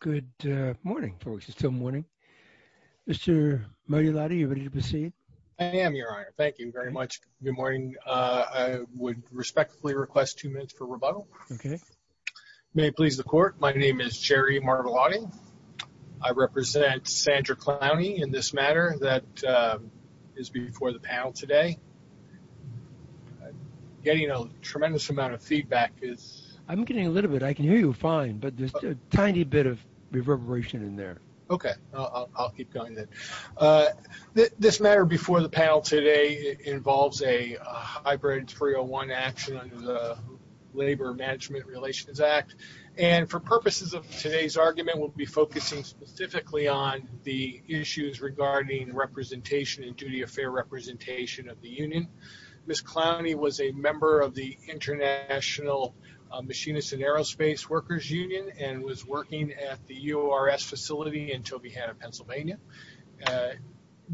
Good morning, folks. It's still morning. Mr. Martellotti, are you ready to proceed? I am, Your Honor. Thank you very much. Good morning. I would respectfully request two minutes for rebuttal. Okay. May it please the Court, my name is Jerry Martellotti. I represent Sandra Clowney in this matter that is before the panel today. Getting a tremendous amount of feedback is I'm getting a little bit. I can hear you fine, but there's a tiny bit of reverberation in there. Okay, I'll keep going then. This matter before the panel today involves a hybrid 301 action under the Labor Management Relations Act. And for purposes of today's argument, we'll be focusing specifically on the issues regarding representation and duty of fair representation of the union. Ms. Clowney was a member of the International Machinists and Aerospace Workers Union and was working at the URS facility in Tobyhanna, Pennsylvania.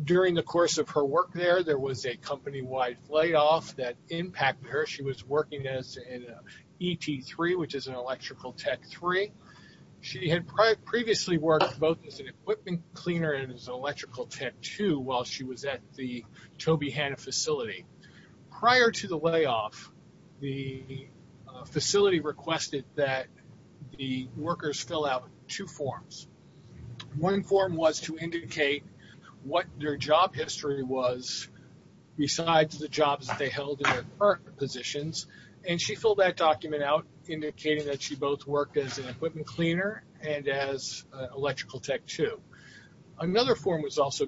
During the course of her work there, there was a company-wide layoff that impacted her. She was previously worked both as an equipment cleaner and as an electrical tech too while she was at the Tobyhanna facility. Prior to the layoff, the facility requested that the workers fill out two forms. One form was to indicate what their job history was besides the jobs that they held in their current positions. And she filled that document out indicating that she both worked as an equipment cleaner and as electrical tech too. Another form was also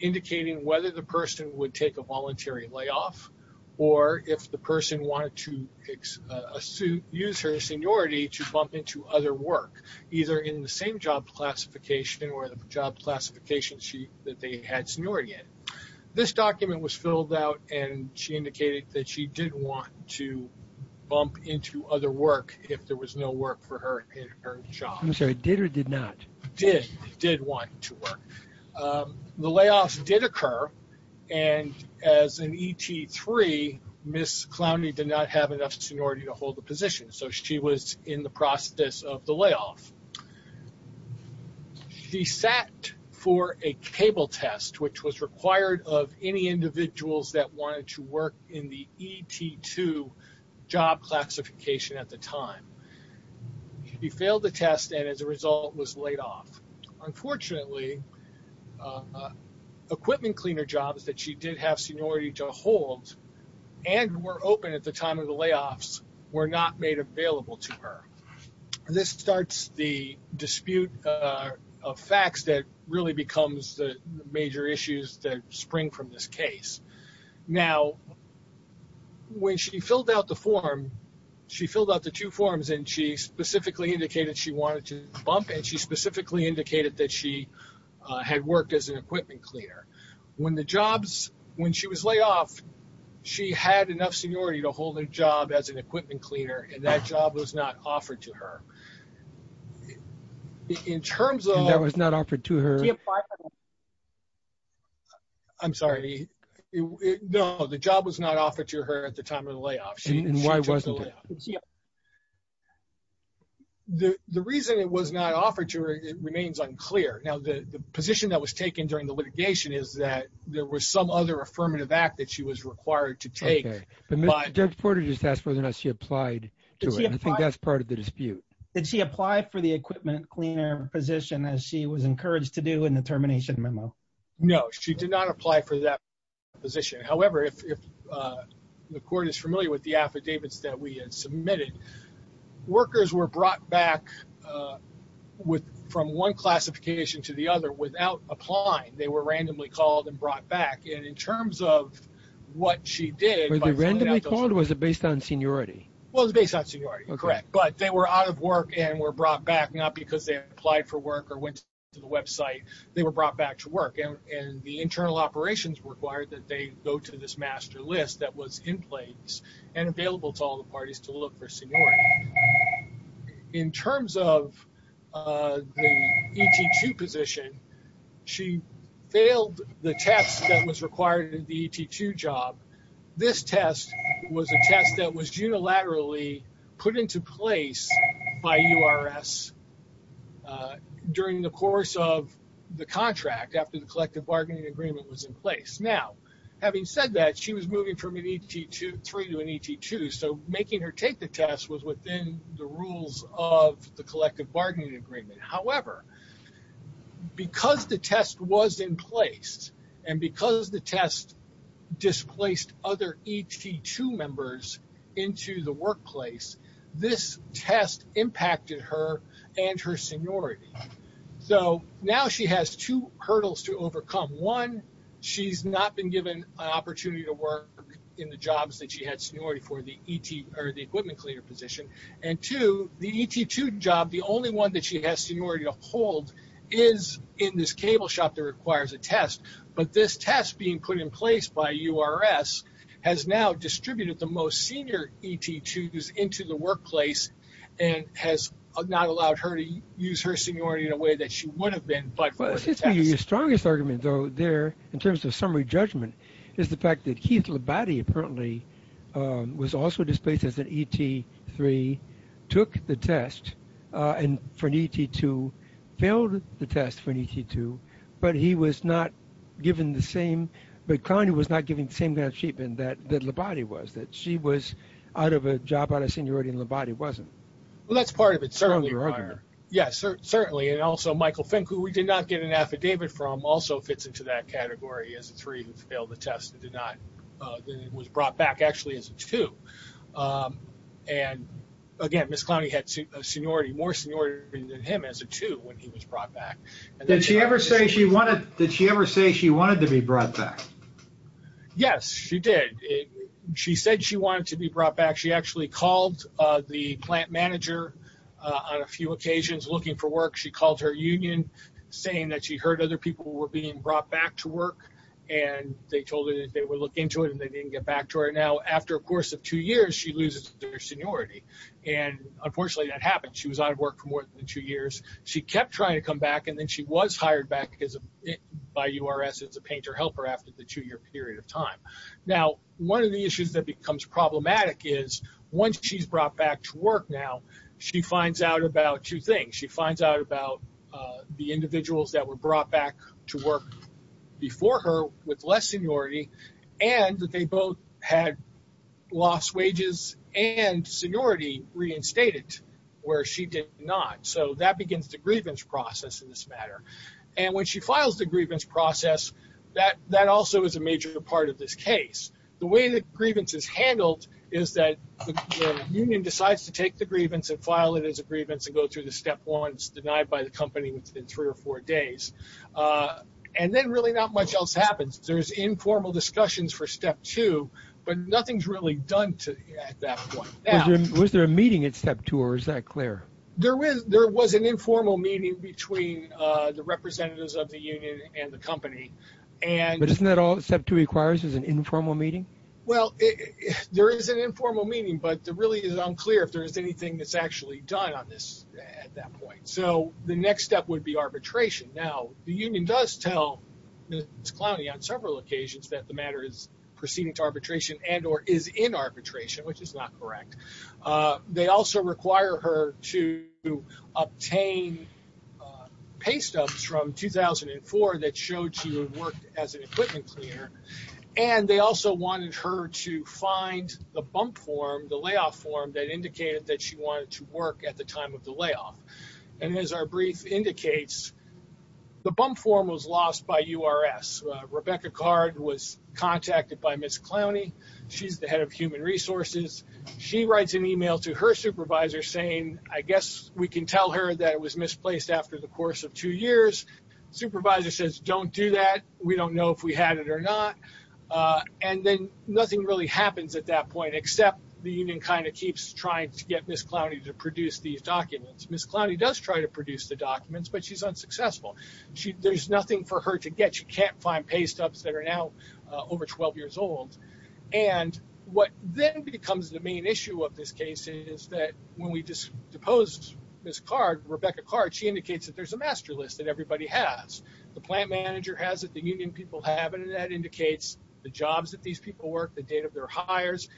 indicating whether the person would take a voluntary layoff or if the person wanted to use her seniority to bump into other work, either in the same job classification or the job classification that they had seniority in. This document was filled out and she indicated that she did want to work for her in her job. I'm sorry, did or did not? Did, did want to work. The layoffs did occur and as an ET3, Ms. Clowney did not have enough seniority to hold the position so she was in the process of the layoff. She sat for a cable test which was required of any individuals that she failed the test and as a result was laid off. Unfortunately, equipment cleaner jobs that she did have seniority to hold and were open at the time of the layoffs were not made available to her. This starts the dispute of facts that really becomes the major issues that spring from this specifically indicated she wanted to bump and she specifically indicated that she had worked as an equipment cleaner. When the jobs, when she was laid off, she had enough seniority to hold a job as an equipment cleaner and that job was not offered to her. In terms of, that was not offered to her. I'm sorry, no, the job was not offered to her at the time of the layoff. The reason it was not offered to her, it remains unclear. Now, the position that was taken during the litigation is that there was some other affirmative act that she was required to take. Judge Porter just asked whether or not she applied to it. I think that's part of the dispute. Did she apply for the equipment cleaner position as she was encouraged to do in the termination memo? No, she did not apply for that position. However, if the court is familiar with the brought back from one classification to the other without applying, they were randomly called and brought back. In terms of what she did- Were they randomly called or was it based on seniority? It was based on seniority, correct. They were out of work and were brought back, not because they applied for work or went to the website, they were brought back to work. The internal operations required that they go to this master list that was in place and available to all the parties to look for seniority. In terms of the ET2 position, she failed the test that was required in the ET2 job. This test was a test that was unilaterally put into place by URS during the course of the contract after the collective bargaining agreement was in place. Now, having said that, she was moving from an ET3 to an ET2, so making her take the test was within the rules of the collective bargaining agreement. However, because the test was in place and because the test displaced other ET2 members into the workplace, this test impacted her and her seniority. Now, she has two hurdles to overcome. One, she's not been given an opportunity to work in the jobs that she had seniority for the equipment cleaner position. Two, the ET2 job, the only one that she has seniority to hold is in this cable shop that requires a test. This test being put in place by URS has now displaced her into the workplace and has not allowed her to use her seniority in a way that she would have been. Your strongest argument, though, there, in terms of summary judgment, is the fact that Keith Labate, apparently, was also displaced as an ET3, took the test and for an ET2, failed the test for an ET2, but he was not given the same, but Connie was not given the same. That's part of it, certainly. Michael Fink, who we did not get an affidavit from, also fits into that category as a three who failed the test and was brought back as a two. Again, Ms. Clowney had more seniority than him as a two when he was brought back. Did she ever say she wanted to be brought back? Yes, she did. She said she wanted to be brought back. She actually called the plant manager on a few occasions looking for work. She called her union saying that she heard other people were being brought back to work. They told her that they would look into it and they didn't get back to her. Now, after a course of two years, she loses her seniority. Unfortunately, that happened. She was out of work for more than two years. She kept trying to come back and then she was hired back by URS as a painter helper after the two-year period of time. One of the issues that becomes problematic is once she's brought back to work now, she finds out about two things. She finds out about the individuals that were brought back to work before her with less seniority and that they both had lost wages and seniority reinstated where she did not. That begins the grievance process in this matter. When she files the grievance process, that also is a major part of this case. The way the grievance is handled is that the union decides to take the grievance and file it as a grievance and go through the step one. It's denied by the company within three or four days. Then really not much else happens. There's informal discussions for step two, but nothing's really done at that point. Was there a meeting at step two or is that clear? There was an informal meeting between the representatives of the union and the company. Isn't that all step two requires is an informal meeting? Well, there is an informal meeting, but it really is unclear if there's anything that's actually done on this at that point. The next step would be arbitration. Now, the union does tell Ms. Clowney on several occasions that the matter is proceeding to arbitration and or is in arbitration, which is not correct. They also require her to obtain pay stubs from 2004 that showed she would work as an equipment cleaner. They also wanted her to find the bump form, the layoff form, that indicated that she wanted to work at the time of the layoff. As our brief indicates, the bump form was lost by URS. Rebecca Card was contacted by Ms. Clowney. She's the head of human resources. She writes an email to her supervisor saying, I guess we can tell her that it was misplaced after the course of two years. Supervisor says, don't do that. We don't know if we had it or not. And then nothing really happens at that point except the union keeps trying to get Ms. Clowney to produce these documents. Ms. Clowney does try to produce the documents, but she's unsuccessful. There's nothing for her to get. She can't find pay stubs that are now over 12 years old. And what then becomes the main issue of this case is that when we just deposed Ms. Card, Rebecca Card, she indicates that there's a master list that everybody has. The plant manager has it, the union people have it, and that indicates the jobs that these people work, the date of their hires,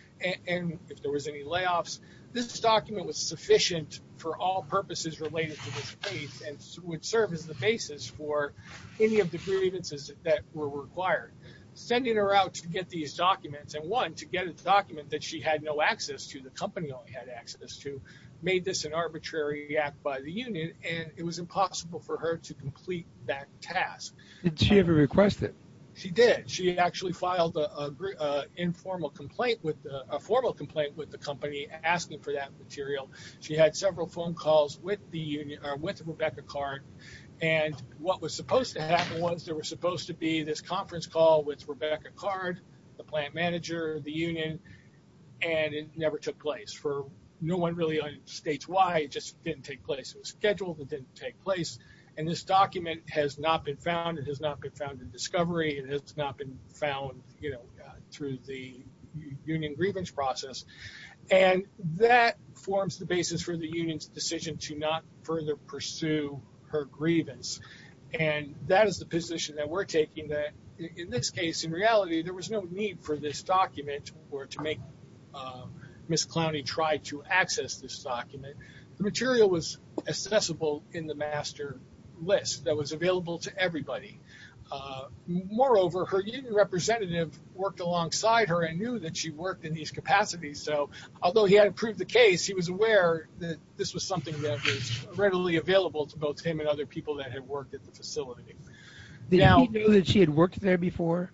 and if there was any layoffs. This document was sufficient for all purposes related to this case and would serve as the basis for any of the grievances that were required. Sending her out to get these documents and one, to get a document that she had no access to, the company only had access to, made this an arbitrary act by the union, and it was impossible for her to complete that task. Did she ever request it? She did. She actually filed a formal complaint with the company asking for that material. She had several phone calls with Ms. Card, and what was supposed to happen was there was supposed to be this conference call with Rebecca Card, the plant manager, the union, and it never took place. No one really states why. It just didn't take place. It was scheduled. It didn't take place. And this document has not been found. It has not been found in discovery. It has not been found through the union grievance process. And that forms the basis for the union's decision to not further pursue her grievance. And that is the position that we're taking, that in this case, in reality, there was no need for this document or to make Ms. Clowney try to access this document. The material was accessible in the master list that was available to everybody. Moreover, her union representative worked alongside her and knew that she worked in these capacities. So although he hadn't proved the case, he was aware that this was something that was readily available to both him and other people that had worked at the facility. Did he know that she had worked there before?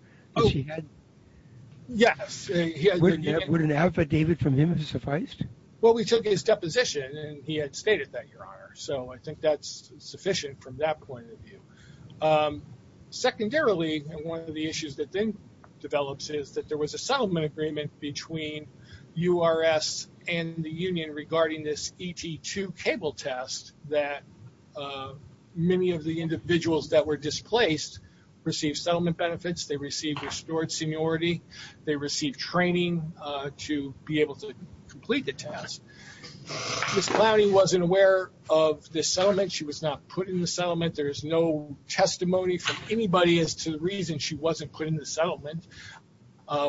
Yes. Would an affidavit from him have sufficed? Well, we took his deposition, and he had stated that, Your Honor. So I think that's sufficient from that point of view. Secondarily, one of the issues that then develops is that there was a settlement agreement between URS and the union regarding this ET2 cable test that many of the individuals that were displaced received settlement benefits, they received restored seniority, they received training to be able to complete the test. Ms. Clowney wasn't aware of this settlement. She was not put in the settlement. There is no testimony from anybody as to the reason she wasn't put in the settlement.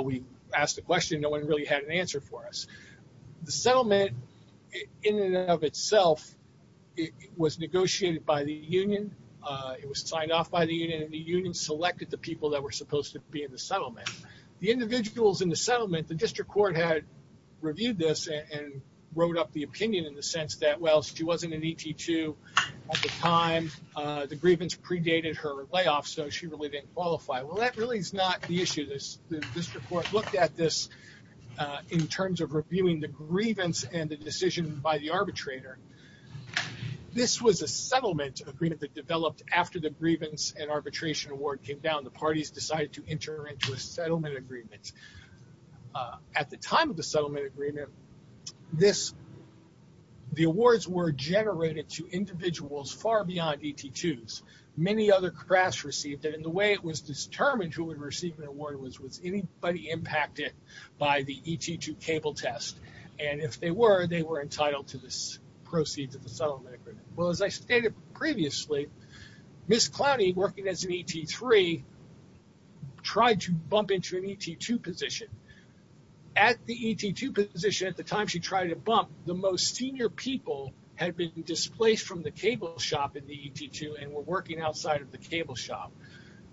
We asked the question. No one really had an answer for us. The settlement, in and of itself, was negotiated by the union. It was signed off by the union. The union selected the people that were supposed to be in the settlement. The individuals in the settlement, the district court had reviewed this and wrote up the opinion in the sense that, well, she wasn't an ET2 at the time. The grievance predated her layoff, so she really didn't qualify. Well, that really is not the issue. The district court looked at this in terms of reviewing the grievance and the decision by the arbitrator. This was a settlement agreement that developed after the grievance and arbitration award came down. The parties decided to enter into a settlement agreement. At the time of the settlement agreement, the awards were generated to individuals far beyond ET2s. Many other crafts received it. The way it was determined who would receive an award was anybody impacted by the ET2 cable test. If they were, they were entitled to this proceed to the settlement agreement. As I stated previously, Ms. Clowney, working as an ET3, tried to bump into an ET2 position. At the ET2 position, at the time she tried to bump, the most senior people had been displaced from the cable shop in the ET2 and were working outside of the cable shop.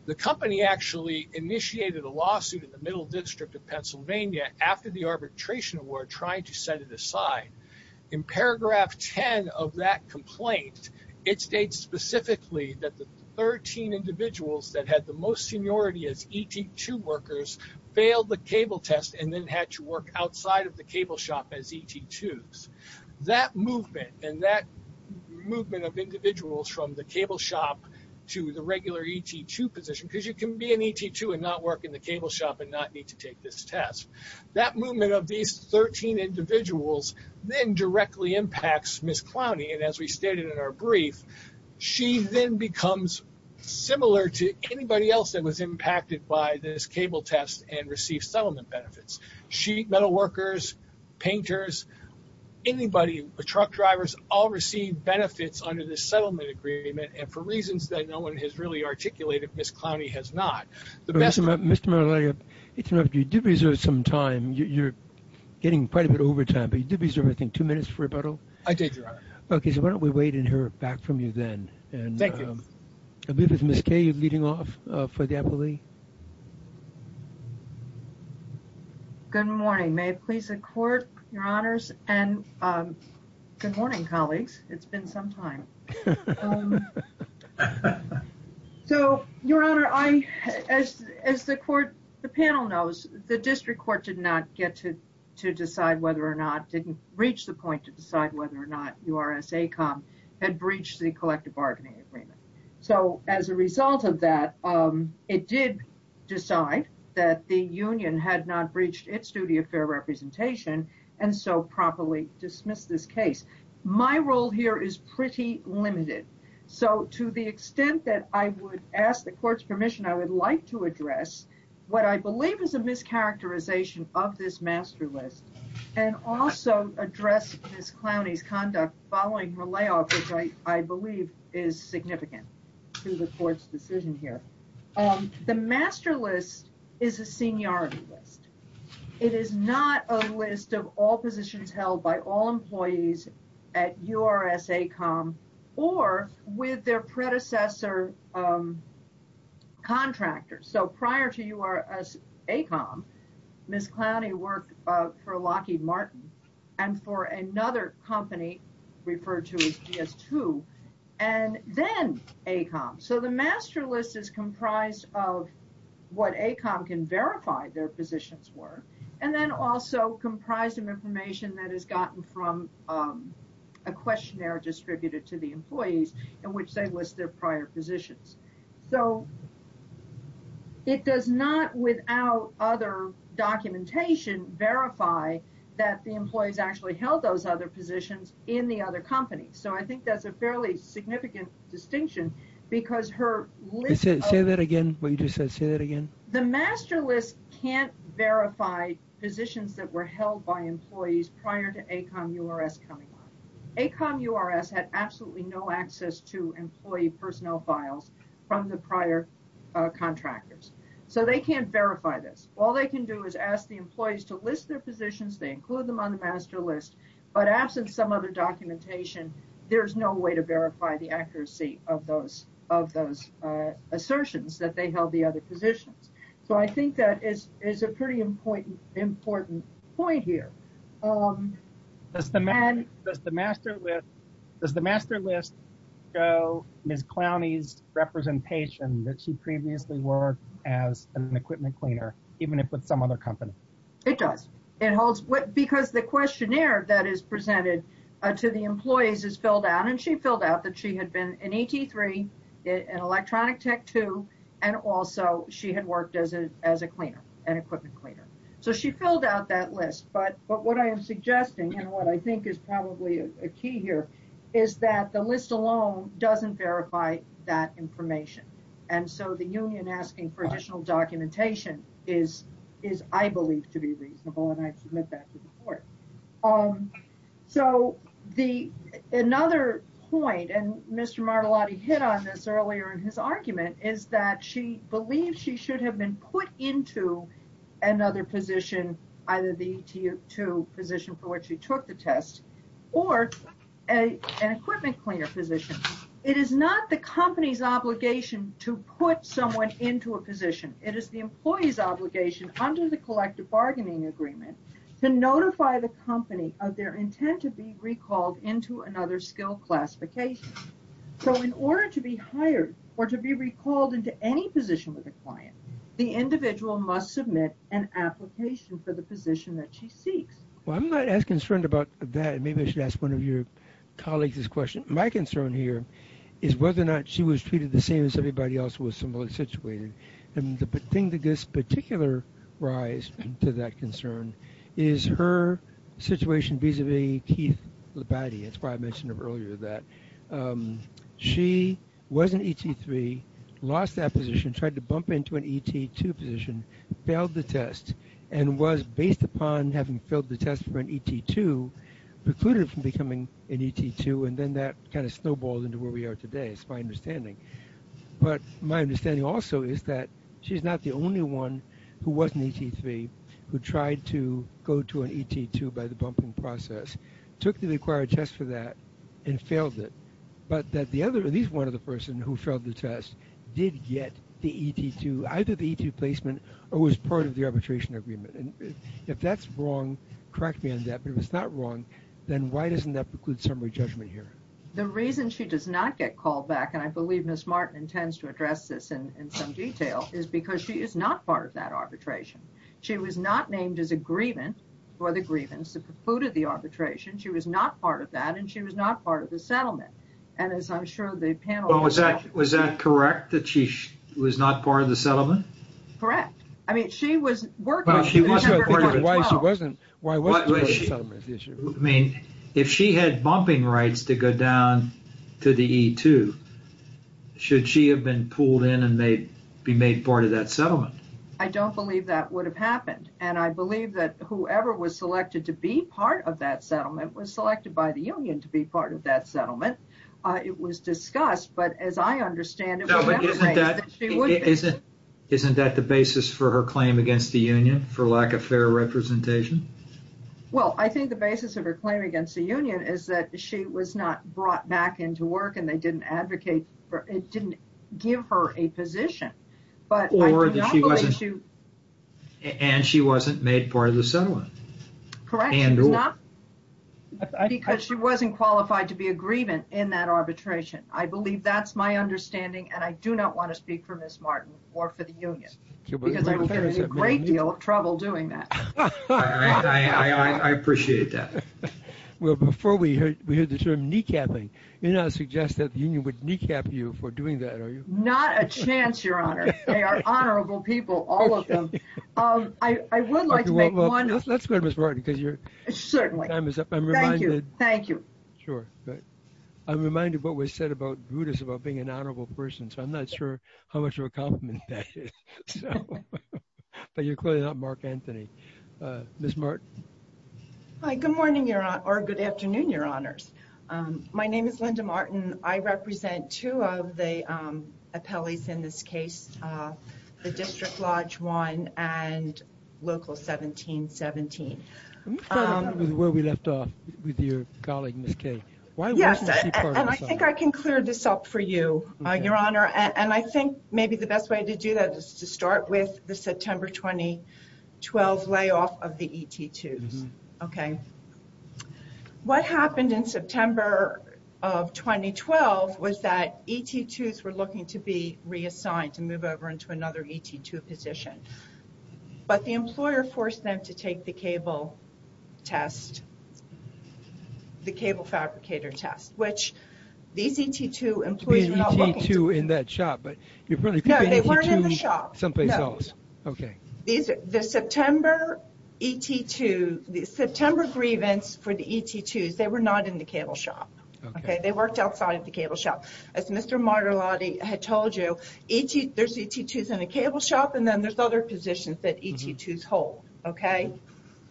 The company actually initiated a lawsuit in the Middle District of Pennsylvania after the arbitration award, trying to set it aside. In paragraph 10 of that complaint, it states specifically that the 13 individuals that had the most seniority as ET2 workers failed the cable test and then had to work outside of the cable shop as ET2s. That movement and that movement of individuals from the cable shop to the regular ET2 position, because you can be an ET2 and not work in the cable shop and not need to take this test, that movement of these 13 individuals then directly impacts Ms. Clowney. As we stated in our brief, she then becomes similar to anybody else that was impacted by this cable test and received settlement benefits. Metalworkers, painters, anybody, truck drivers, all received benefits under this settlement agreement and for reasons that no one has really articulated, Ms. Clowney has not. The best- Mr. Manolario, you did reserve some time. You're getting quite a bit of overtime, but you did reserve, I think, two minutes for rebuttal? I did, Your Honor. Okay, so why don't we wait and hear back from you then? Thank you. I'll begin with Ms. Kaye. You're leading off for the appellee. Good morning. May it please the Court, Your Honors, and good morning, colleagues. It's been some time. So, Your Honor, as the panel knows, the district court did not get to decide whether or not, didn't reach the point to decide whether or not URS-ACOM had breached the collective bargaining agreement. So, as a result of that, it did decide that the union had not breached its duty of fair representation and so properly dismissed this case. My role here is pretty limited. So, to the extent that I would ask the Court's permission, I would like to address what I believe is a mischaracterization of this master list and also address Ms. Clowney's conduct following her layoff, which I believe is significant to the Court's decision here. The master list is a seniority list. It is not a list of all positions held by all employees at URS-ACOM or with their predecessor contractors. So, prior to URS-ACOM, Ms. Clowney worked for Lockheed Martin and for another company referred to as GS2 and then ACOM. So, the master list is comprised of what ACOM can verify their positions were and then also comprised of information that is gotten from a questionnaire distributed to the employees in which they list their prior positions. So, it does not, without other documentation, verify that the employees actually held those other positions in the other companies. So, I think that's a fairly significant distinction because her list of... Say that again, what you just said. Say that again. The master list can't verify positions that were held by employees prior to ACOM-URS coming on. ACOM-URS had absolutely no access to employee personnel files from the prior contractors. So, they can't verify this. All they can do is ask the employees to list their positions. They include them on the master list, but absent some other documentation, there's no way to verify the So, I think that is a pretty important point here. Does the master list show Ms. Clowney's representation that she previously worked as an equipment cleaner, even if with some other company? It does. Because the questionnaire that is presented to the employees is filled out, that she had been an ET3, an electronic tech 2, and also she had worked as a cleaner, an equipment cleaner. So, she filled out that list, but what I am suggesting and what I think is probably a key here is that the list alone doesn't verify that information. And so, the union asking for additional documentation is, I believe, to be reasonable and I submit that to the court. So, another point, and Mr. Martellotti hit on this earlier in his argument, is that she believes she should have been put into another position, either the ET2 position for which she took the test, or an equipment cleaner position. It is not the company's obligation to put someone into a position. It is the employee's obligation under the collective agreement to notify the company of their intent to be recalled into another skill classification. So, in order to be hired or to be recalled into any position with a client, the individual must submit an application for the position that she seeks. Well, I am not as concerned about that. Maybe I should ask one of your colleagues this question. My concern here is whether or not she was treated the same as everybody else who was similarly situated. And the thing that gives particular rise to that concern is her situation vis-a-vis Keith Labadie. That's why I mentioned it earlier that she was an ET3, lost that position, tried to bump into an ET2 position, failed the test, and was, based upon having failed the test for an ET2, precluded from becoming an ET2, and then that kind of snowballed into where we are today, is my understanding. But my understanding also is that she's not the only one who was an ET3, who tried to go to an ET2 by the bumping process, took the required test for that, and failed it. But that the other, at least one of the person who failed the test, did get the ET2, either the ET2 placement, or was part of the arbitration agreement. And if that's wrong, correct me on that, but if it's not wrong, then why doesn't that preclude summary judgment here? The reason she does not get called back, and I believe Ms. Martin intends to address this in some detail, is because she is not part of that arbitration. She was not named as a grievant for the grievance that precluded the arbitration. She was not part of that, and she was not part of the settlement. And as I'm sure the panel... Well, was that correct, that she was not part of the settlement? Correct. I mean, she was working... But if she wasn't a part of it, why wasn't she a part of the settlement? I mean, if she had bumping rights to go down to the ET2, should she have been pulled in and be made part of that settlement? I don't believe that would have happened, and I believe that whoever was selected to be part of that settlement was selected by the union to be part of that settlement. It was discussed, but as I understand it, it was... Isn't that the basis for her claim against the union, for lack of fair representation? Well, I think the basis of her claim against the union is that she was not brought back into work, and they didn't advocate for... It didn't give her a position, but I do not believe she... Or that she wasn't... And she wasn't made part of the settlement. Correct. And or... It's not... Because she wasn't qualified to be a grievant in that arbitration. I believe that's my understanding, and I do not want to speak for Ms. Martin or for the union, because I will get in a great deal of trouble doing that. I appreciate that. Well, before we hear the term kneecapping, you're not suggesting that the union would kneecap you for doing that, are you? Not a chance, Your Honor. They are honorable people, all of them. I would like to make one... Let's go to Ms. Martin, because you're... Certainly. Time is up. I'm reminded... Thank you, thank you. Sure, good. I'm reminded what was said about Brutus, about being an honorable person, so I'm not sure how much of a compliment that is, so... But you're clearly not Mark Anthony. Ms. Martin? Hi, good morning, Your Honor, or good afternoon, Your Honors. My name is Linda Martin. I represent two of the appellees in this case, the District Lodge 1 and Local 1717. Let me follow up with where we left off with your colleague, Ms. Kay. Why wasn't she part of the And I think maybe the best way to do that is to start with the September 2012 layoff of the ET2s. What happened in September of 2012 was that ET2s were looking to be reassigned, to move over into another ET2 position. But the employer forced them to take the cable test, the cable fabricator test, which these ET2 employees were not looking to. To be an ET2 in that shop, but you're probably... No, they weren't in the shop. Someplace else, okay. These... The September ET2... The September grievance for the ET2s, they were not in the cable shop, okay? They worked outside of the cable shop. As Mr. Martellotti had told you, ET... There's ET2s in the cable shop, and then there's other positions that ET2s hold, okay?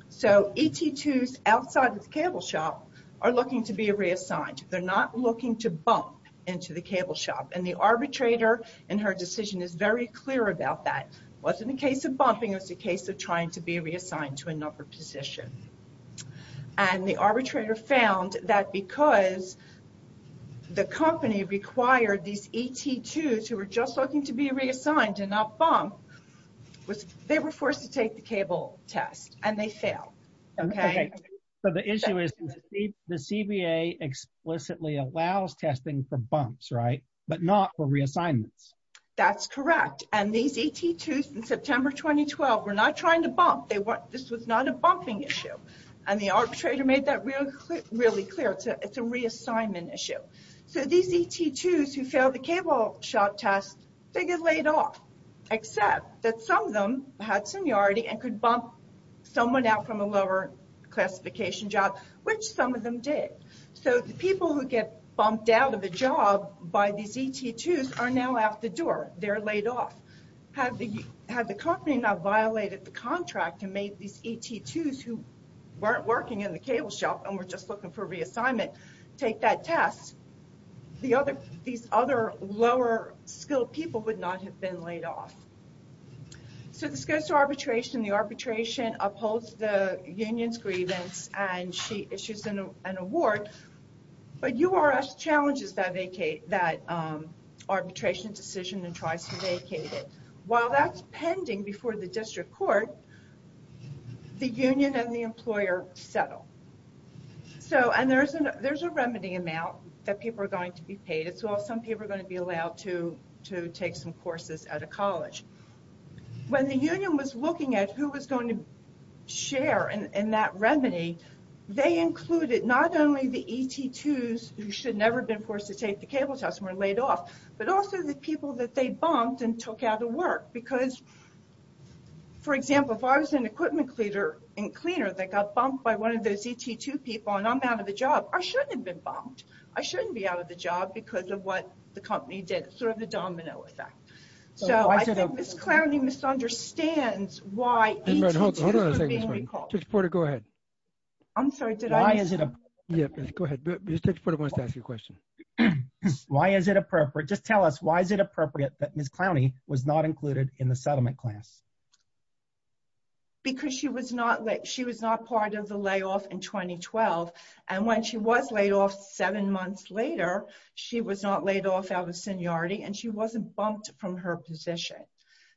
So ET2s outside of the cable shop are looking to be reassigned. They're not looking to bump into the cable shop. And the arbitrator, in her decision, is very clear about that. It wasn't a case of bumping. It was a case of trying to be reassigned to another position. And the arbitrator found that because the company required these ET2s who were just looking to be reassigned, and they failed, okay? Okay. So the issue is the CBA explicitly allows testing for bumps, right? But not for reassignments. That's correct. And these ET2s in September 2012 were not trying to bump. They weren't... This was not a bumping issue. And the arbitrator made that really clear. It's a reassignment issue. So these ET2s who failed the cable shop test, they get laid off. Except that some of them had seniority and could bump someone out from a lower classification job, which some of them did. So the people who get bumped out of a job by these ET2s are now out the door. They're laid off. Had the company not violated the contract and made these ET2s who weren't working in the cable shop and were just looking for reassignment take that test, these other lower skilled people would not have been laid off. So this goes to arbitration. The arbitration upholds the union's grievance and she issues an award. But URS challenges that arbitration decision and tries to vacate it. While that's pending before the district court, the union and the employer settle. And there's a remedy amount that people are going to be paid. Some people are going to be allowed to take some courses at a college. When the union was looking at who was going to share in that remedy, they included not only the ET2s who should never have been forced to take the cable test and were laid off, but also the people that they bumped and took out of work. Because, for example, if I was an equipment cleaner that got bumped by one of those ET2 people and I'm out of a job, I shouldn't have bumped. I shouldn't be out of the job because of what the company did, sort of the domino effect. So I think Ms. Clowney misunderstands why ET2s are being recalled. Judge Porter, go ahead. I'm sorry, did I miss something? Yeah, go ahead. Judge Porter wants to ask you a question. Why is it appropriate? Just tell us, why is it appropriate that Ms. Clowney was not included in the settlement class? Because she was not part of the layoff in 2012. And when she was laid off, seven months later, she was not laid off out of seniority and she wasn't bumped from her position.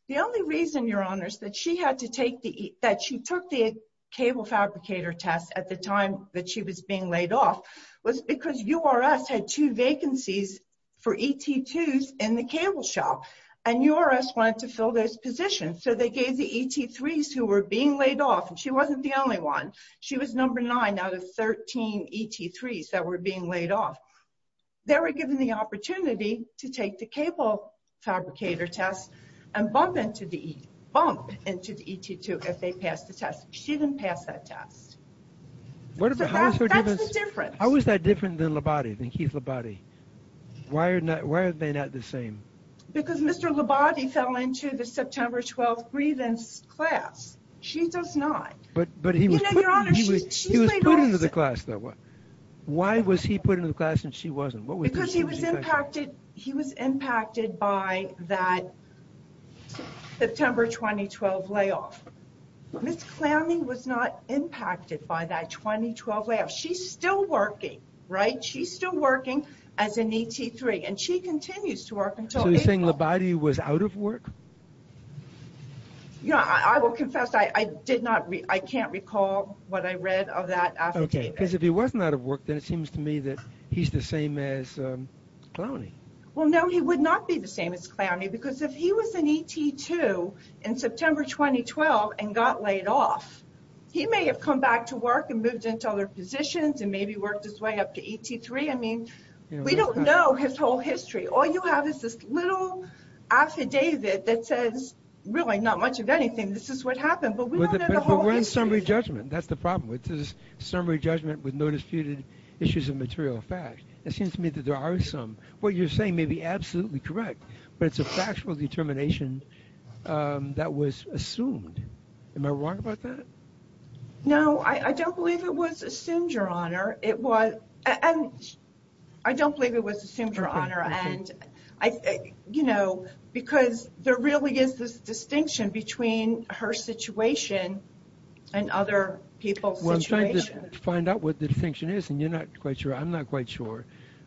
The only reason, Your Honors, that she took the cable fabricator test at the time that she was being laid off was because URS had two vacancies for ET2s in the cable shop and URS wanted to fill those positions. So they gave the ET3s who were being laid off and she wasn't the only one. She was number nine out of 13 ET3s that were being laid off. They were given the opportunity to take the cable fabricator test and bump into the ET2 if they passed the test. She didn't pass that test. That's the difference. How is that different than Labate, than Keith Labate? Why are they not the same? Because Mr. Labate fell into the September 12th grievance class. She does not. But he was put into the class though. Why was he put into the class and she wasn't? Because he was impacted by that September 2012 layoff. Ms. Clammy was not impacted by that 2012 layoff. She's still working, right? She's still working as an ET3 and she continues to work. I will confess I can't recall what I read of that affidavit. Because if he wasn't out of work, then it seems to me that he's the same as Clowney. Well, no, he would not be the same as Clowney because if he was an ET2 in September 2012 and got laid off, he may have come back to work and moved into other positions and maybe worked his way up to ET3. I mean, we don't know his whole history. All you have is this little affidavit that says really not much of anything. This is what happened. But we don't know the whole history. But we're in summary judgment. That's the problem. It says summary judgment with no disputed issues of material fact. It seems to me that there are some. What you're saying may be absolutely correct, but it's a factual determination that was assumed. Am I wrong about that? No, I don't believe it was assumed, Your Honor. I don't believe it was assumed, Your Honor. Because there really is this distinction between her situation and other people's situations. Well, I'm trying to find out what the distinction is, and you're not quite sure. I'm not quite sure.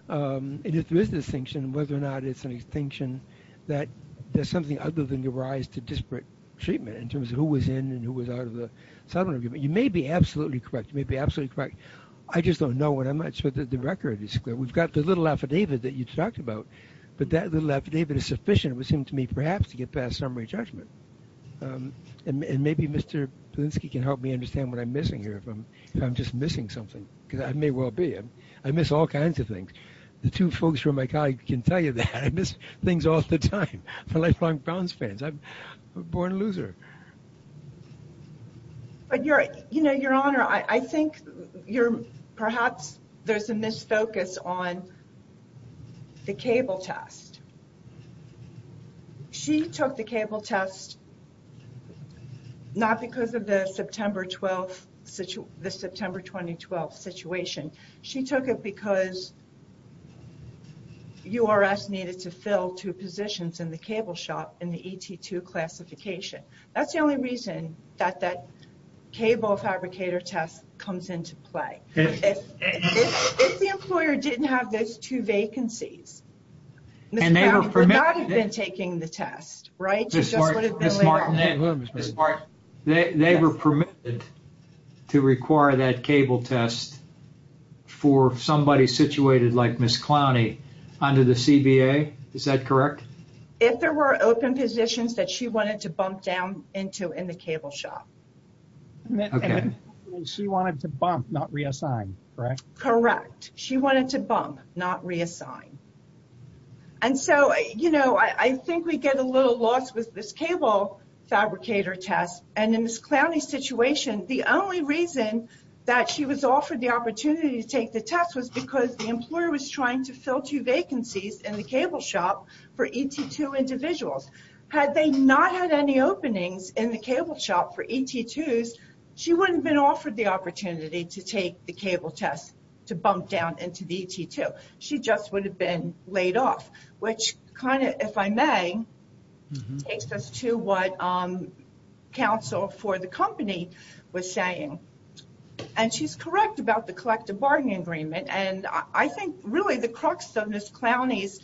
If there is a distinction, whether or not it's a distinction that there's something other than the rise to disparate treatment in terms of who was in and who was out of the settlement agreement. You may be absolutely correct. You may be absolutely correct. I just don't know what I'm not sure that the record is clear. We've got the little affidavit that you talked about, but that little affidavit is sufficient, it would seem to me, perhaps to get past summary judgment. And maybe Mr. Polinsky can help me understand what I'm missing here if I'm just missing something, because I may well be. I miss all kinds of things. The two folks from my colleague can tell you that. I miss things all the time for lifelong Browns fans. I'm a born loser. Your Honor, I think perhaps there's a misfocus on the cable test. She took the cable test not because of the September 2012 situation. She took it because URS needed to fill two vacancies. That's the only reason that that cable fabricator test comes into play. If the employer didn't have those two vacancies, Ms. Clowney would not have been taking the test, right? They were permitted to require that cable test for somebody situated like Ms. Clowney under the CBA. Is that correct? If there were open positions that she wanted to bump down into in the cable shop. She wanted to bump, not reassign, correct? Correct. She wanted to bump, not reassign. And so, you know, I think we get a little lost with this cable fabricator test. And in Ms. Clowney's situation, the only reason that she was offered the opportunity to take the test was because the employer was trying to fill two vacancies in the cable shop for ET2 individuals. Had they not had any openings in the cable shop for ET2s, she wouldn't have been offered the opportunity to take the cable test to bump down into the ET2. She just would have been laid off, which kind of, if I may, takes us to what counsel for the company was saying. And she's correct about the collective bargaining agreement. And I think really the crux of Ms. Clowney's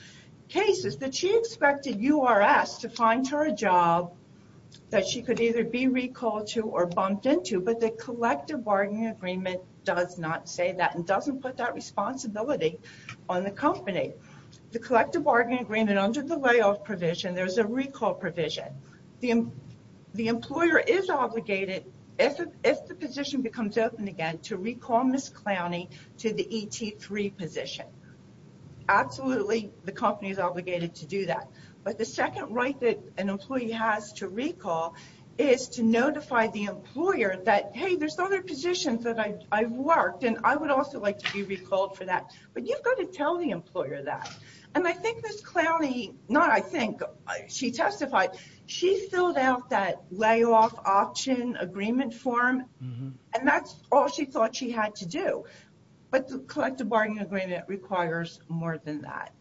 case is that she expected URS to find her a job that she could either be recalled to or bumped into. But the collective bargaining agreement does not say that and doesn't put that responsibility on the company. The collective bargaining agreement under the layoff provision, there's a recall provision. The employer is obligated, if the position becomes open again, to recall Ms. Clowney to the ET3 position. Absolutely, the company is obligated to do that. But the second right that an employee has to recall is to notify the employer that, hey, there's other positions that I've worked and I would also like to be recalled for that. But you've to tell the employer that. And I think Ms. Clowney, not I think, she testified, she filled out that layoff option agreement form and that's all she thought she had to do. But the collective bargaining agreement requires more than that.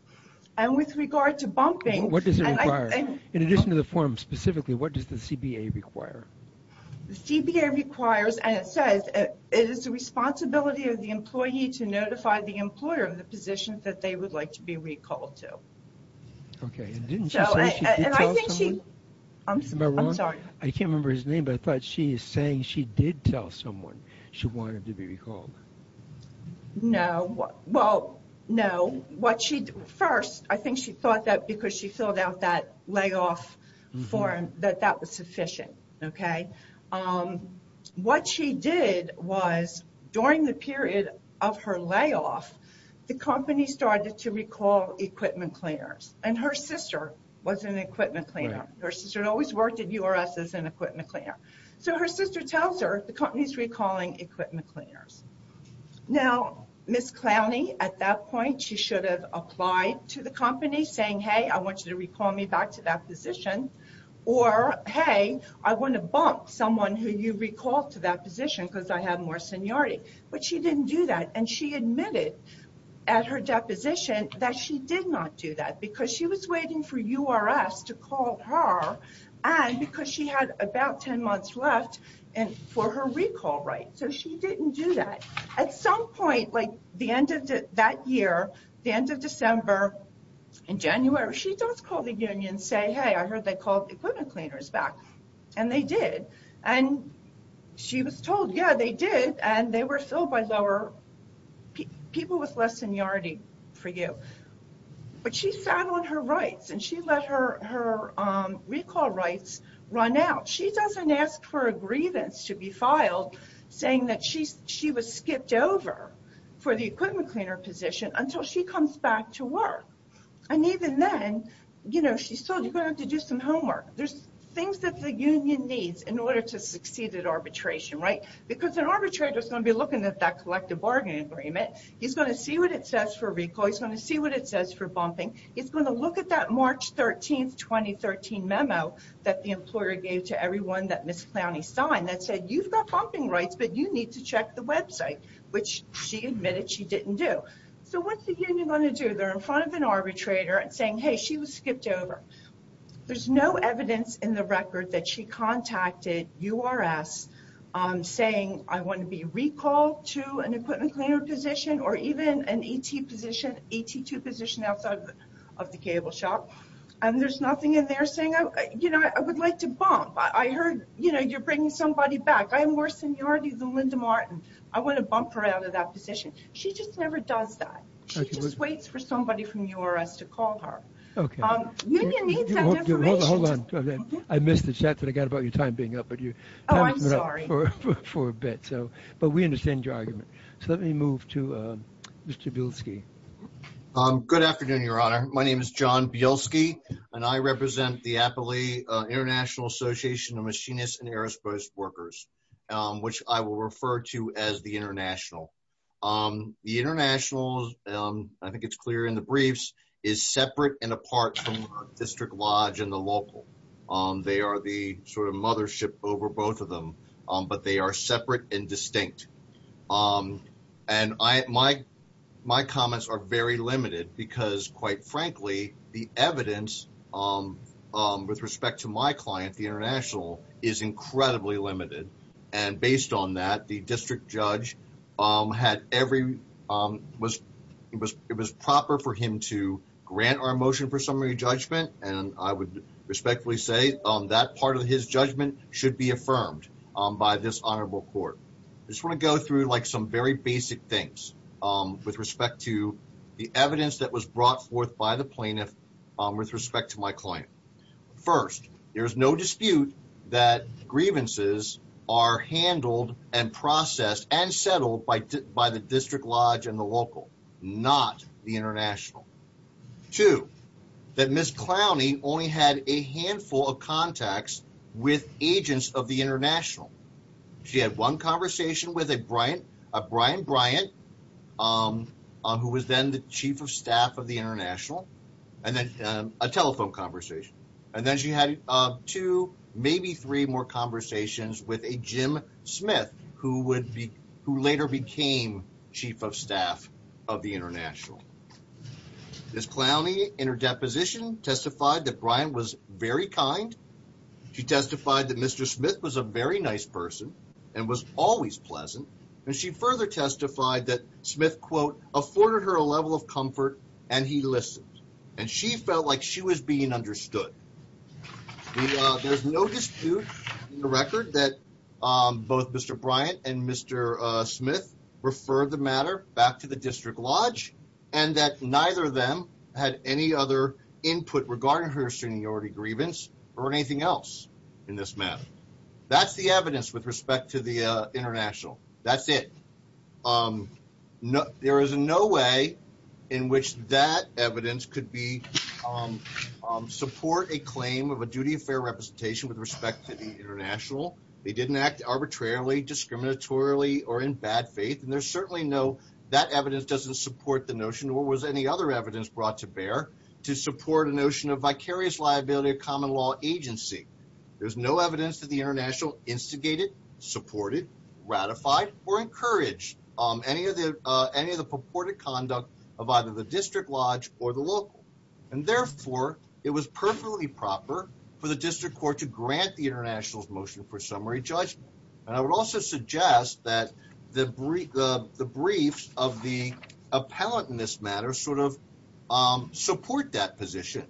And with regard to bumping... What does it require? In addition to the form specifically, what does the CBA require? The CBA requires, and it says, it is the responsibility of the employee to notify the employer of the position that they would like to be recalled to. Okay. And didn't she say she did tell someone? I'm sorry. I can't remember his name, but I thought she is saying she did tell someone she wanted to be recalled. No. Well, no. What she... First, I think she thought that because she filled out that layoff form, that that was sufficient. Okay. What she did was during the period of her layoff, the company started to recall equipment cleaners. And her sister was an equipment cleaner. Her sister always worked at URS as an equipment cleaner. So her sister tells her the company's recalling equipment cleaners. Now, Ms. Clowney, at that point, she should have applied to the company saying, hey, I want you to bump someone who you recall to that position because I have more seniority. But she didn't do that. And she admitted at her deposition that she did not do that because she was waiting for URS to call her and because she had about 10 months left for her recall, right? So she didn't do that. At some point, like the end of that year, the end of December and January, she does call the union and say, hey, I heard they called the equipment cleaners back. And they did. And she was told, yeah, they did. And they were filled by people with less seniority for you. But she sat on her rights and she let her recall rights run out. She doesn't ask for a grievance to be filed saying that she was skipped over for the equipment cleaner position until she comes back to work. And even then, you know, she's told you're going to have to do some homework. There's things that the union needs in order to succeed at arbitration, right? Because an arbitrator is going to be looking at that collective bargaining agreement. He's going to see what it says for recall. He's going to see what it says for bumping. He's going to look at that March 13, 2013 memo that the employer gave to everyone that Ms. Clowney signed that said, you've got bumping rights, but you need to check the website, which she admitted she didn't do. So what's the union going to do? They're in front of an arbitrator and saying, hey, she was skipped over. There's no evidence in the record that she contacted URS saying, I want to be recalled to an equipment cleaner position or even an ET position, ET2 position outside of the cable shop. And there's nothing in there saying, you know, I would like to bump. I heard, you know, you're bringing somebody back. I have more seniority than Linda Martin. I want to bump her out of that position. She just waits for somebody from URS to call her. Okay. Hold on. I missed the chat that I got about your time being up, but you haven't been up for a bit. So, but we understand your argument. So let me move to Mr. Bielski. Good afternoon, Your Honor. My name is John Bielski and I represent the Applee International Association of Machinists and Aerospace Workers, which I will refer to as the International. The International, I think it's clear in the briefs, is separate and apart from the District Lodge and the local. They are the sort of mothership over both of them, but they are separate and distinct. And my comments are very limited because, quite frankly, the evidence with respect to my client, the International, is incredibly limited. And based on that, the district judge had every, it was proper for him to grant our motion for summary judgment. And I would respectfully say that part of his judgment should be affirmed by this honorable court. I just want to go through like some very basic things with respect to the evidence that was brought forth by the plaintiff with respect to my client. First, there is no dispute that grievances are handled and processed and settled by the District Lodge and the local, not the International. Two, that Ms. Clowney only had a handful of contacts with agents of the International. She had one conversation with a Bryant, a Brian Bryant, who was then the chief of more conversations with a Jim Smith, who later became chief of staff of the International. Ms. Clowney, in her deposition, testified that Bryant was very kind. She testified that Mr. Smith was a very nice person and was always pleasant. And she further testified that Smith, quote, afforded her a level of comfort and he listened. And she felt like she was being the record that both Mr. Bryant and Mr. Smith referred the matter back to the District Lodge and that neither of them had any other input regarding her seniority grievance or anything else in this matter. That's the evidence with respect to the International. That's it. There is no way in which that evidence could support a claim of a duty of fair representation with respect to the International. They didn't act arbitrarily, discriminatorily, or in bad faith. And there's certainly no, that evidence doesn't support the notion, or was any other evidence brought to bear to support a notion of vicarious liability of common law agency. There's no evidence that the International instigated, supported, ratified, or encouraged any of the purported conduct of either the District Lodge or the local. And therefore, it was perfectly proper for the District Court to grant the International's motion for summary judgment. And I would also suggest that the briefs of the appellant in this matter sort of support that position.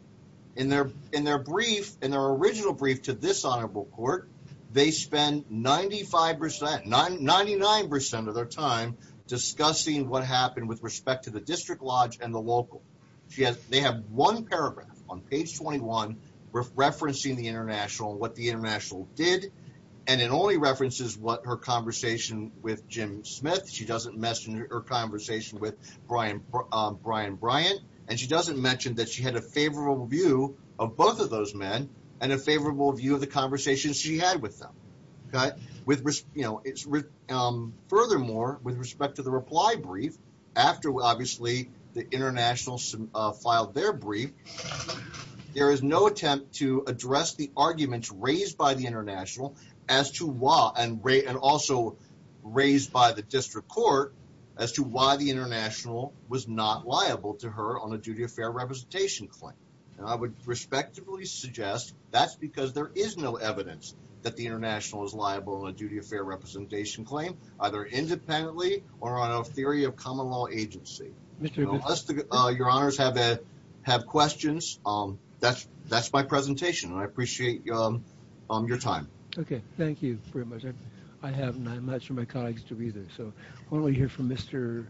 In their brief, in their original brief to this Honorable Court, they spend 95%, 99% of their time discussing what happened with respect to District Lodge and the local. They have one paragraph on page 21 referencing the International, what the International did. And it only references what her conversation with Jim Smith. She doesn't mention her conversation with Brian Bryant. And she doesn't mention that she had a favorable view of both of those men and a favorable view of the conversations she had with them. With respect, you know, furthermore, with respect to the reply brief, after, obviously, the International filed their brief, there is no attempt to address the arguments raised by the International as to why, and also raised by the District Court, as to why the International was not liable to her on a duty of fair representation claim. And I would respectively suggest that's because there is no evidence that the International is liable on a duty of fair representation claim, either independently or on a theory of common law agency. Unless your honors have questions, that's my presentation. And I appreciate your time. Okay. Thank you very much. I have none. I'm not sure my colleagues do either. So I want to hear from Mr.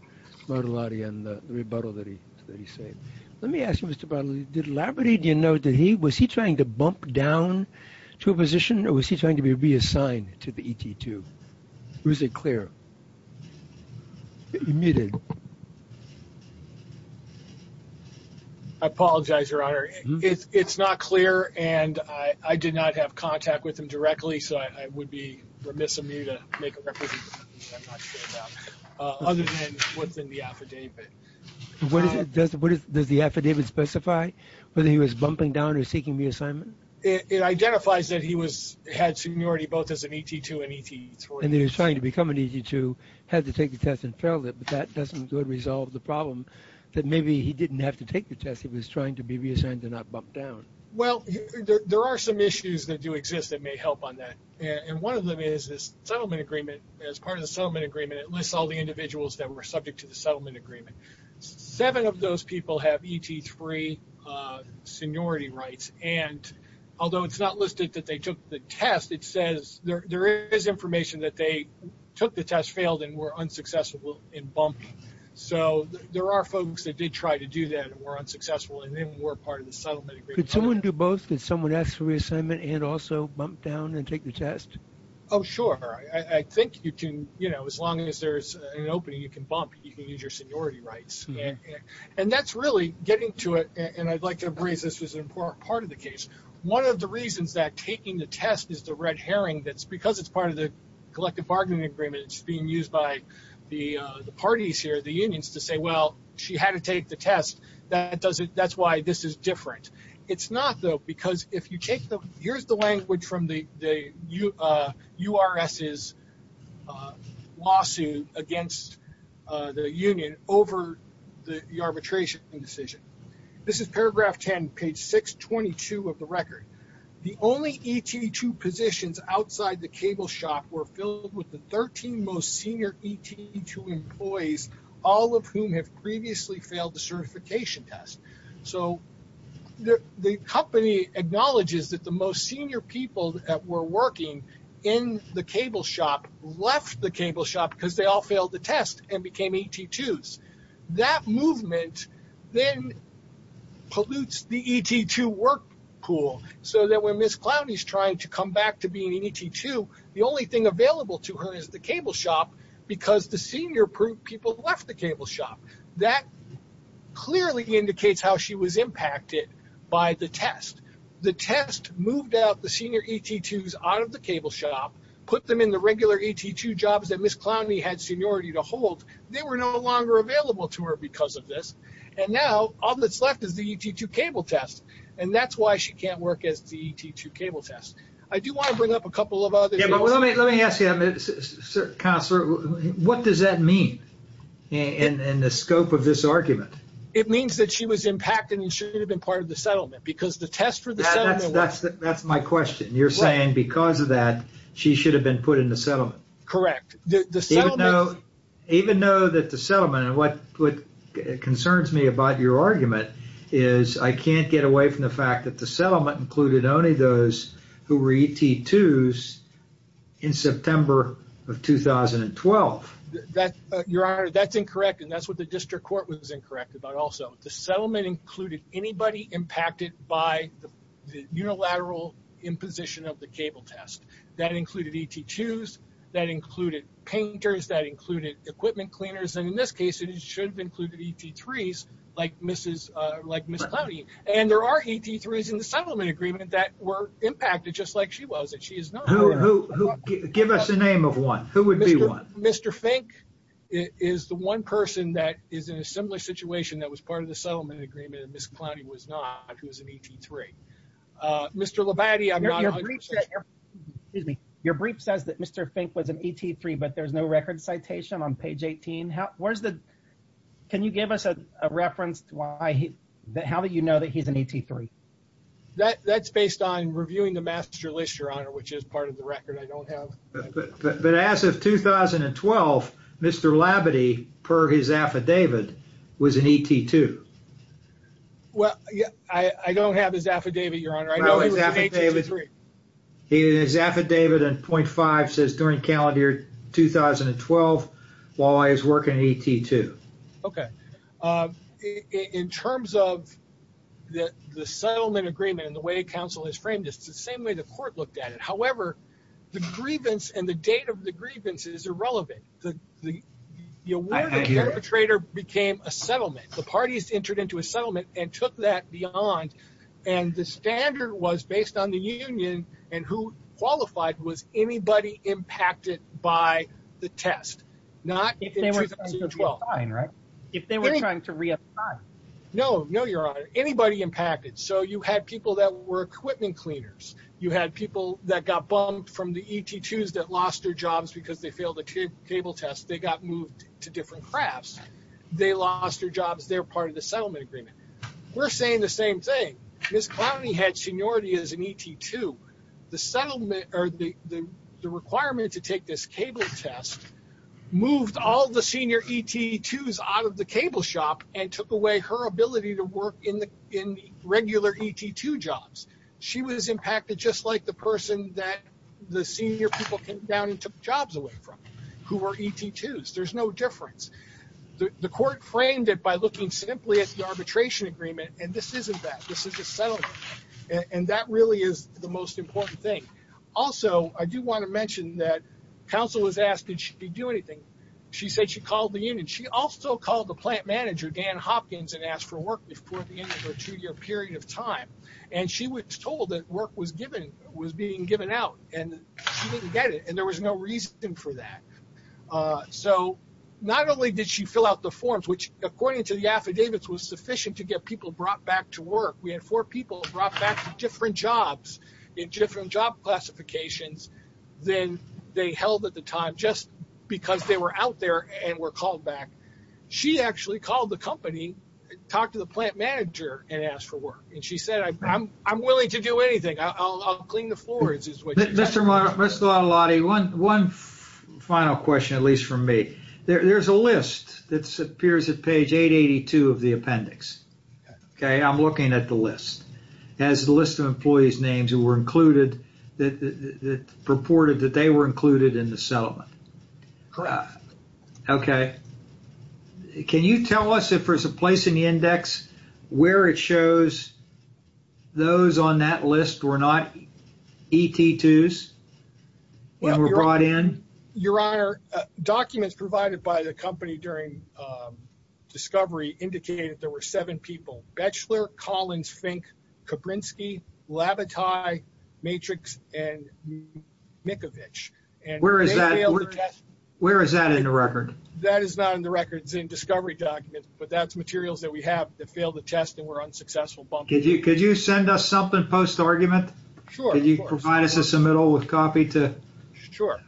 Motilati on the rebuttal that he said. Let me ask you, Mr. Motilati, did Labradorian know that he, was he trying to bump down to a position or was he trying to be reassigned to the ET2? Or is it clear? You're muted. I apologize, Your Honor. It's not clear. And I did not have contact with him directly. So I would be remiss of me to make a rebuttal. I'm not sure about, other than what's in the affidavit. What is it? Does the affidavit specify whether he was bumping down or seeking reassignment? It identifies that he had seniority both as an ET2 and ET3. And he was trying to become an ET2, had to take the test and failed it. But that doesn't go to resolve the problem that maybe he didn't have to take the test. He was trying to be reassigned to not bump down. Well, there are some issues that do exist that may help on that. And one of them is this settlement agreement. As part of the settlement agreement, it lists all the individuals that were subject to the settlement agreement. Seven of those people have ET3 seniority rights. And although it's not listed that they took the test, it says there is information that they took the test, failed, and were unsuccessful in bumping. So there are folks that did try to do that and were unsuccessful, and then were part of the settlement agreement. Could someone do both? Did someone ask for reassignment and also bump down and take the test? Oh, sure. I think you can. As long as there's an opening, you can bump. You can use your And that's really getting to it. And I'd like to embrace this as an important part of the case. One of the reasons that taking the test is the red herring, that's because it's part of the collective bargaining agreement. It's being used by the parties here, the unions, to say, well, she had to take the test. That's why this is different. It's not, though, because if you take the arbitration decision, this is paragraph 10, page 622 of the record. The only ET2 positions outside the cable shop were filled with the 13 most senior ET2 employees, all of whom have previously failed the certification test. So the company acknowledges that the most senior people that were working in the cable shop left the cable shop because they all failed the test and became ET2s. That movement then pollutes the ET2 work pool so that when Ms. Clowney is trying to come back to being an ET2, the only thing available to her is the cable shop because the senior people left the cable shop. That clearly indicates how she was impacted by the test. The test moved out the senior ET2s out of the cable shop, put them in the regular ET2 jobs that Ms. Clowney had seniority to hold. They were no longer available to her because of this. And now all that's left is the ET2 cable test. And that's why she can't work as the ET2 cable test. I do want to bring up a couple of other things. Yeah, but let me ask you, counselor, what does that mean in the scope of this argument? It means that she was impacted and shouldn't have been part of the settlement because the you're saying because of that, she should have been put in the settlement. Correct. Even though that the settlement and what concerns me about your argument is I can't get away from the fact that the settlement included only those who were ET2s in September of 2012. That's incorrect. And that's what the district court was incorrect about. Also, the settlement included anybody impacted by the unilateral imposition of the cable test that included ET2s, that included painters, that included equipment cleaners. And in this case, it should have included ET3s like Ms. Clowney. And there are ET3s in the settlement agreement that were impacted just like she was. She is not. Give us a name of one. Mr. Fink is the one person that is in a similar situation that was part of the settlement agreement and Ms. Clowney was not, who was an ET3. Mr. Levati, I'm not. Excuse me. Your brief says that Mr. Fink was an ET3, but there's no record citation on page 18. Can you give us a reference to how you know that he's an ET3? That's based on reviewing the master list, Your Honor, which is part of the record. I don't have. But as of 2012, Mr. Levati, per his affidavit, was an ET2. Well, I don't have his affidavit, Your Honor. I know he was an ET3. His affidavit on point five says during calendar year 2012, while he was working at ET2. Okay. In terms of the settlement agreement and the way counsel has framed this, it's the same the court looked at it. However, the grievance and the date of the grievance is irrelevant. The award of the perpetrator became a settlement. The parties entered into a settlement and took that beyond and the standard was based on the union and who qualified was anybody impacted by the test. Not in 2012. If they were trying to reapply, right? If they were trying to reapply. No, no, Your Honor. Anybody impacted. So, had people that were equipment cleaners. You had people that got bumped from the ET2s that lost their jobs because they failed the cable test. They got moved to different crafts. They lost their jobs. They're part of the settlement agreement. We're saying the same thing. Ms. Clowney had seniority as an ET2. The requirement to take this cable test moved all the senior ET2s out of the cable shop and took away her ability to work in regular ET2 jobs. She was impacted just like the person that the senior people came down and took jobs away from who were ET2s. There's no difference. The court framed it by looking simply at the arbitration agreement and this isn't that. This is a settlement and that really is the most important thing. Also, I do want to mention that counsel was asked did she do anything. She said she called the union. She also called the plant manager, Dan Hopkins, and asked for the end of her two-year period of time. She was told that work was being given out and she didn't get it and there was no reason for that. So, not only did she fill out the forms, which according to the affidavits was sufficient to get people brought back to work. We had four people brought back to different jobs in different job classifications than they held at the time just because they were out there and were called back. She actually called the company, talked to the plant manager, and asked for work. She said I'm willing to do anything. I'll clean the floors. Mr. Lottilotti, one final question at least from me. There's a list that appears at page 882 of the appendix. I'm looking at the list. It has the list of employees' names who were included that purported that they were included in the settlement. Correct. Okay. Can you tell us if there's a place in the index where it shows those on that list were not ET2s and were brought in? Your Honor, documents provided by the company during discovery indicated there were seven people. Bechler, Collins, Fink, Koprinski, Labatai, Matrix, and Mikovic. Where is that in the record? That is not in the record. It's in discovery documents, but that's materials that we have that failed the test and were unsuccessful. Could you send us something post-argument? Sure. Could you provide us a submittal with copy? Sure.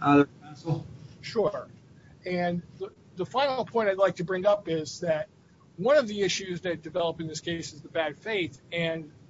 The final point I'd like to bring up is that one of the issues that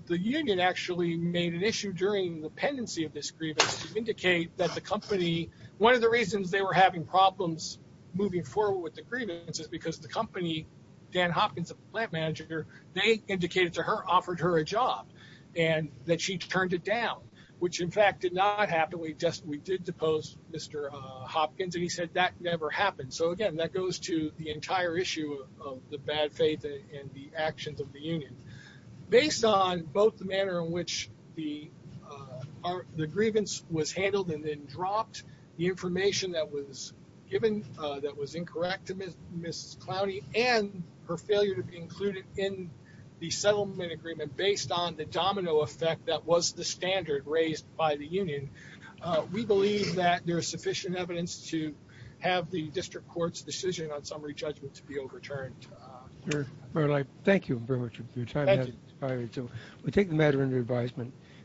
the union actually made an issue during the pendency of this grievance to indicate that the company... One of the reasons they were having problems moving forward with the grievance is because the company, Dan Hopkins, the plant manager, they indicated to her, offered her a job and that she turned it down, which in fact did not happen. We did depose Mr. Hopkins, and he said that never happened. Again, that goes to the entire issue of the bad faith and the actions of the union. Based on both the manner in which the grievance was handled and then dropped, the information that was given that was incorrect to Ms. Clowney, and her failure to be included in the settlement agreement based on the domino effect that was the standard raised by the union, we believe that there is sufficient evidence to have the district court's decision on summary judgment to be overturned. Thank you very much for your time. We take the matter into advisement.